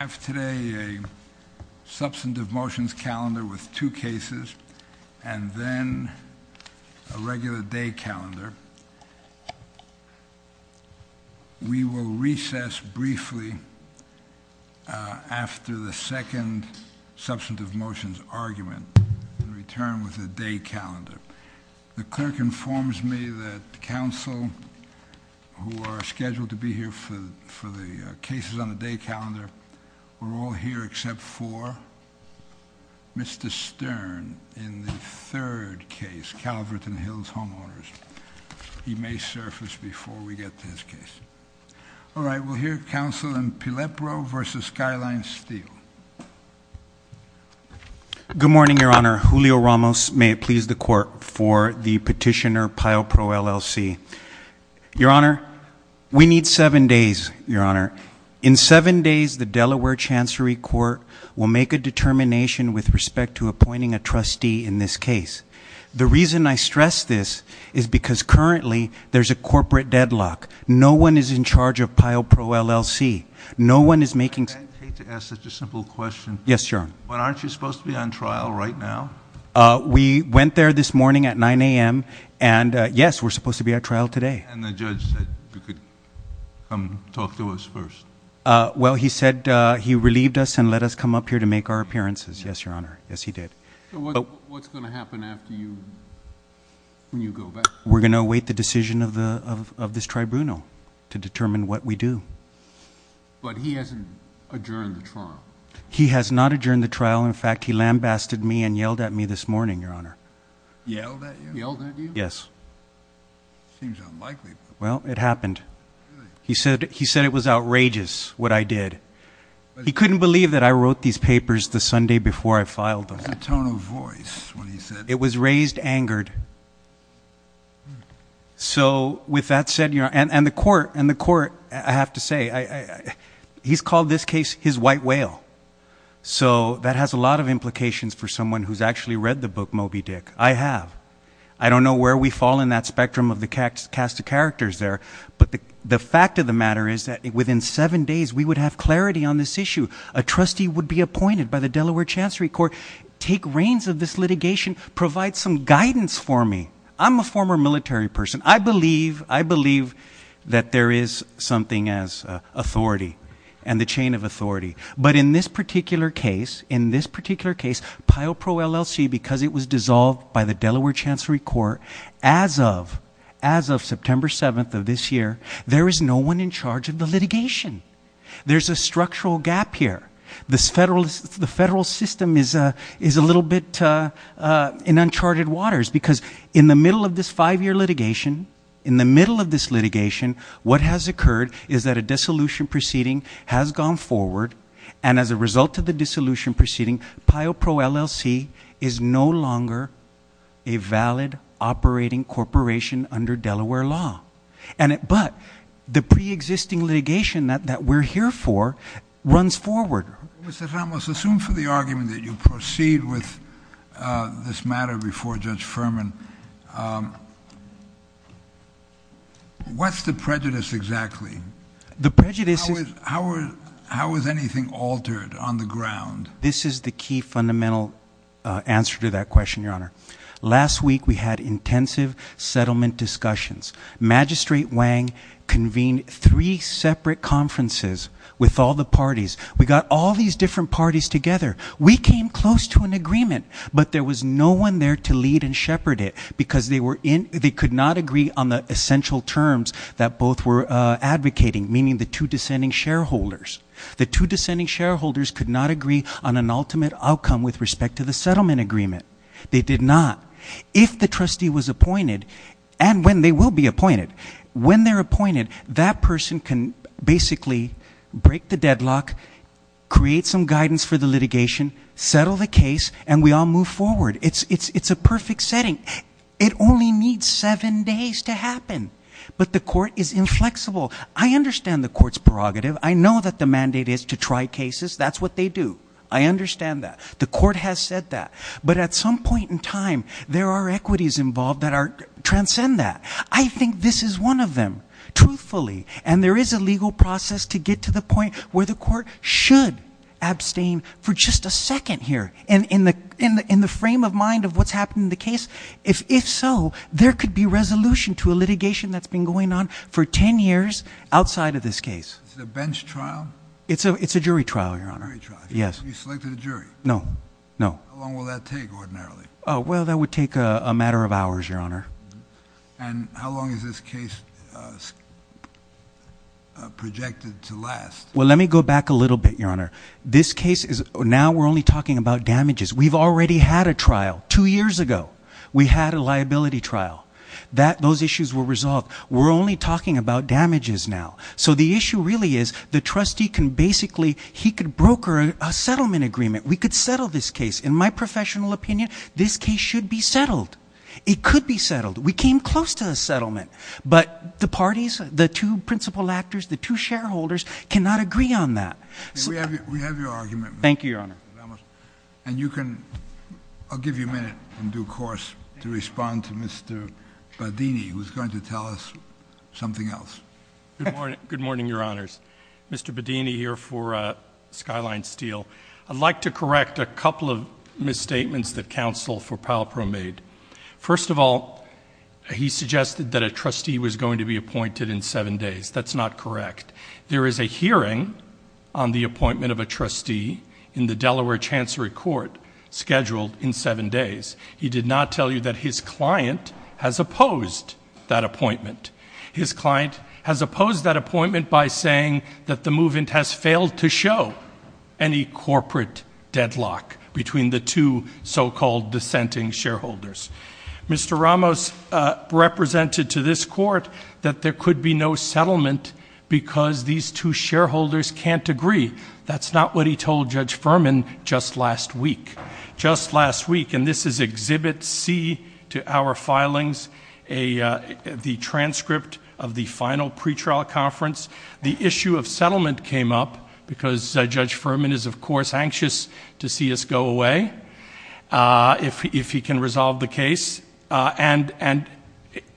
I have today a substantive motions calendar with two cases and then a regular day calendar. We will recess briefly after the second substantive motions argument and return with a day calendar. The clerk informs me that counsel who are scheduled to be here for the cases on the day calendar were all here except for Mr. Stern in the third case, Calverton Hills Homeowners. He may surface before we get to his case. All right, we'll hear counsel in Pilepro versus Skyline Steel. Good morning, Your Honor. Julio Ramos, may it please the court for the petitioner Pilepro, LLC. Your Honor, we need seven days, Your Honor. In seven days, the Delaware Chancery Court will make a determination with respect to appointing a trustee in this case. The reason I stress this is because currently, there's a corporate deadlock. No one is in charge of Pilepro, LLC. No one is making- I hate to ask such a simple question. Yes, Your Honor. But aren't you supposed to be on trial right now? We went there this morning at 9 AM and yes, we're supposed to be at trial today. And the judge said you could come talk to us first. Well, he said he relieved us and let us come up here to make our appearances. Yes, Your Honor. Yes, he did. So what's going to happen after you, when you go back? We're going to await the decision of this tribunal to determine what we do. But he hasn't adjourned the trial. He has not adjourned the trial. In fact, he lambasted me and yelled at me this morning, Your Honor. Yelled at you? Yelled at you? Yes. Seems unlikely. Well, it happened. He said it was outrageous, what I did. He couldn't believe that I wrote these papers the Sunday before I filed them. What's the tone of voice when he said- It was raised angered. So with that said, and the court, I have to say, he's called this case his white whale. So that has a lot of implications for someone who's actually read the book Moby Dick. I have. I don't know where we fall in that spectrum of the cast of characters there. But the fact of the matter is that within seven days we would have clarity on this issue. A trustee would be appointed by the Delaware Chancery Court. Take reins of this litigation, provide some guidance for me. I'm a former military person. I believe that there is something as authority and the chain of authority. But in this particular case, in this particular case, PIO Pro LLC, because it was dissolved by the Delaware Chancery Court, as of September 7th of this year, there is no one in charge of the litigation, there's a structural gap here. The federal system is a little bit in uncharted waters, because in the middle of this five year litigation, in the middle of this litigation, what has occurred is that a dissolution proceeding has gone forward, and as a result of the dissolution proceeding, PIO Pro LLC is no longer a valid operating corporation under Delaware law. But the pre-existing litigation that we're here for runs forward. Mr. Ramos, assume for the argument that you proceed with this matter before Judge Furman. What's the prejudice exactly? The prejudice is- How is anything altered on the ground? This is the key fundamental answer to that question, Your Honor. Last week we had intensive settlement discussions. Magistrate Wang convened three separate conferences with all the parties. We got all these different parties together. We came close to an agreement, but there was no one there to lead and shepherd it because they could not agree on the essential terms that both were advocating, meaning the two descending shareholders. The two descending shareholders could not agree on an ultimate outcome with respect to the settlement agreement. They did not. If the trustee was appointed, and when they will be appointed, when they're appointed, that person can basically break the deadlock, create some guidance for the litigation, settle the case, and we all move forward. It's a perfect setting. It only needs seven days to happen. But the court is inflexible. I understand the court's prerogative. I know that the mandate is to try cases. That's what they do. I understand that. The court has said that. But at some point in time, there are equities involved that transcend that. I think this is one of them. Truthfully, and there is a legal process to get to the point where the court should abstain for just a second here. And in the frame of mind of what's happened in the case, if so, there could be resolution to a litigation that's been going on for ten years outside of this case. Is it a bench trial? It's a jury trial, Your Honor. Jury trial. Yes. You selected a jury? No. No. How long will that take ordinarily? Well, that would take a matter of hours, Your Honor. And how long is this case projected to last? Well, let me go back a little bit, Your Honor. This case is, now we're only talking about damages. We've already had a trial two years ago. We had a liability trial. Those issues were resolved. We're only talking about damages now. So the issue really is, the trustee can basically, he could broker a settlement agreement. We could settle this case. In my professional opinion, this case should be settled. It could be settled. We came close to a settlement. But the parties, the two principal actors, the two shareholders cannot agree on that. We have your argument. Thank you, Your Honor. And you can, I'll give you a minute in due course to respond to Mr. Badini, who's going to tell us something else. Good morning, Your Honors. Mr. Badini here for Skyline Steel. I'd like to correct a couple of misstatements that counsel for Palpro made. First of all, he suggested that a trustee was going to be appointed in seven days. That's not correct. There is a hearing on the appointment of a trustee in the Delaware Chancery Court scheduled in seven days. He did not tell you that his client has opposed that appointment. His client has opposed that appointment by saying that the movement has failed to show any corporate deadlock between the two so-called dissenting shareholders. Mr. Ramos represented to this court that there could be no settlement because these two shareholders can't agree. That's not what he told Judge Furman just last week. Just last week, and this is exhibit C to our filings, the transcript of the final pretrial conference. The issue of settlement came up because Judge Furman is, of course, anxious to see us go away. If he can resolve the case, and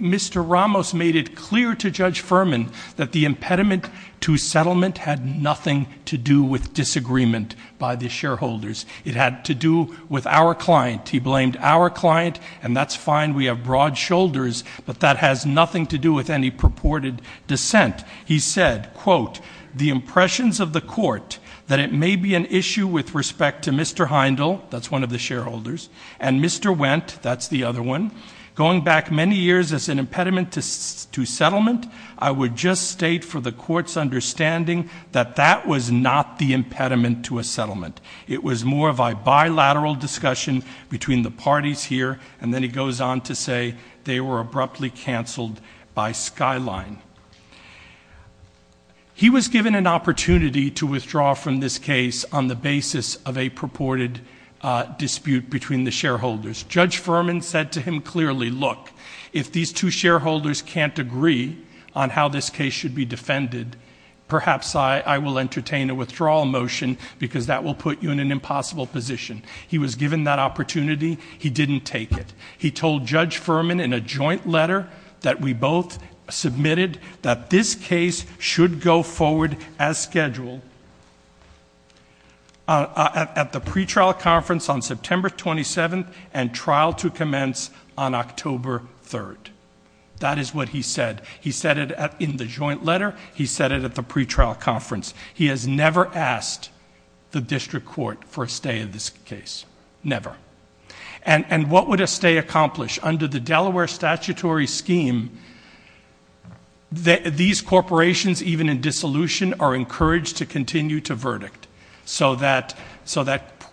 Mr. Ramos made it clear to Judge Furman that the impediment to settlement had nothing to do with disagreement by the shareholders. It had to do with our client. He blamed our client, and that's fine, we have broad shoulders, but that has nothing to do with any purported dissent. He said, quote, the impressions of the court that it may be an issue with respect to Mr. Heindel, that's one of the shareholders, and Mr. Wendt, that's the other one. Going back many years as an impediment to settlement, I would just state for the court's understanding that that was not the impediment to a settlement. It was more of a bilateral discussion between the parties here, and then he goes on to say they were abruptly canceled by Skyline. He was given an opportunity to withdraw from this case on the basis of a purported dispute between the shareholders. Judge Furman said to him clearly, look, if these two shareholders can't agree on how this case should be defended, perhaps I will entertain a withdrawal motion, because that will put you in an impossible position. He was given that opportunity, he didn't take it. He told Judge Furman in a joint letter that we both submitted that this case should go forward as scheduled at the pretrial conference on September 27th and trial to commence on October 3rd. That is what he said. He said it in the joint letter, he said it at the pretrial conference. He has never asked the district court for a stay in this case, never. And what would a stay accomplish? Under the Delaware statutory scheme, these corporations, even in dissolution, are encouraged to continue to verdict. So that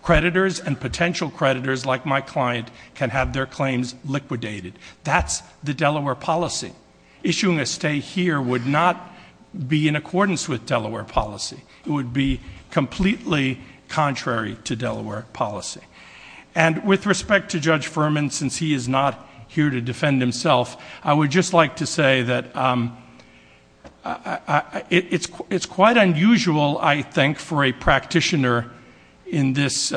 creditors and potential creditors, like my client, can have their claims liquidated. That's the Delaware policy. Issuing a stay here would not be in accordance with Delaware policy. It would be completely contrary to Delaware policy. And with respect to Judge Furman, since he is not here to defend himself, I would just like to say that it's quite unusual, I think, for a practitioner in this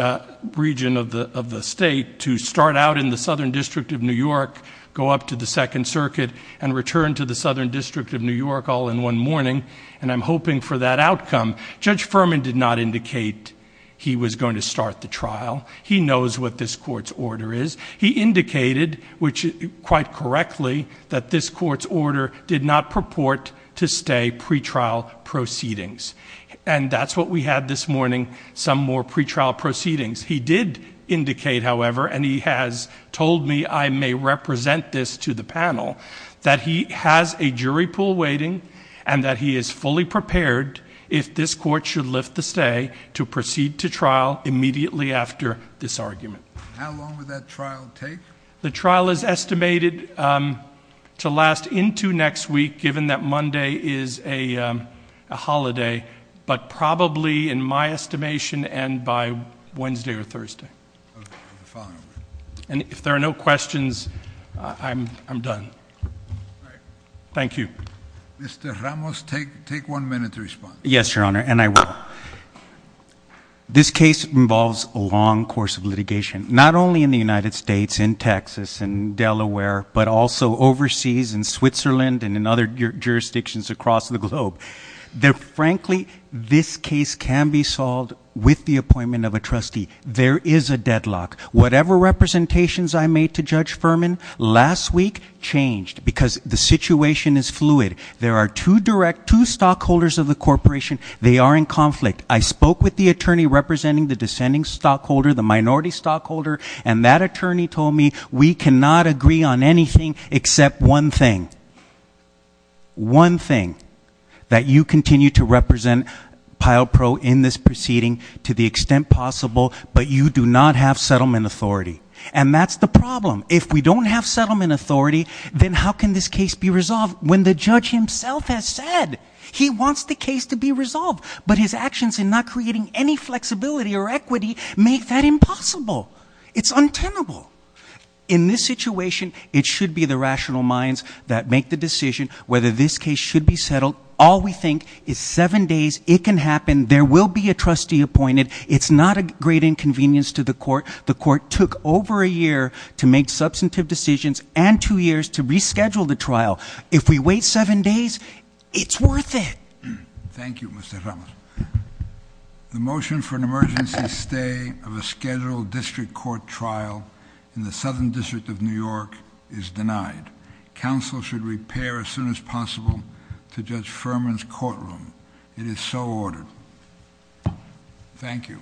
region of the state to start out in the Southern District of New York, go up to the Second Circuit, and return to the Southern District of New York all in one morning, and I'm hoping for that outcome. Judge Furman did not indicate he was going to start the trial. He knows what this court's order is. He indicated, which quite correctly, that this court's order did not purport to stay pretrial proceedings. And that's what we had this morning, some more pretrial proceedings. He did indicate, however, and he has told me I may represent this to the panel, that he has a jury pool waiting, and that he is fully prepared, if this court should lift the stay, to proceed to trial immediately after this argument. How long would that trial take? The trial is estimated to last into next week, given that Monday is a holiday. But probably, in my estimation, end by Wednesday or Thursday. And if there are no questions, I'm done. Thank you. Mr. Ramos, take one minute to respond. Yes, Your Honor, and I will. This case involves a long course of litigation, not only in the United States, in Texas, and Delaware, but also overseas, in Switzerland, and in other jurisdictions across the globe. That frankly, this case can be solved with the appointment of a trustee. There is a deadlock. Whatever representations I made to Judge Furman last week changed, because the situation is fluid. There are two direct, two stockholders of the corporation. They are in conflict. I spoke with the attorney representing the descending stockholder, the minority stockholder, and that attorney told me, we cannot agree on anything except one thing. One thing, that you continue to represent PILO Pro in this proceeding to the extent possible. But you do not have settlement authority. And that's the problem. If we don't have settlement authority, then how can this case be resolved? When the judge himself has said he wants the case to be resolved, but his actions in not creating any flexibility or equity make that impossible. It's untenable. In this situation, it should be the rational minds that make the decision whether this case should be settled. All we think is seven days, it can happen. There will be a trustee appointed. It's not a great inconvenience to the court. The court took over a year to make substantive decisions, and two years to reschedule the trial. If we wait seven days, it's worth it. Thank you, Mr. Ramos. The motion for an emergency stay of a scheduled district court trial in the Southern District of New York is denied. Counsel should repair as soon as possible to Judge Furman's courtroom. It is so ordered. Thank you.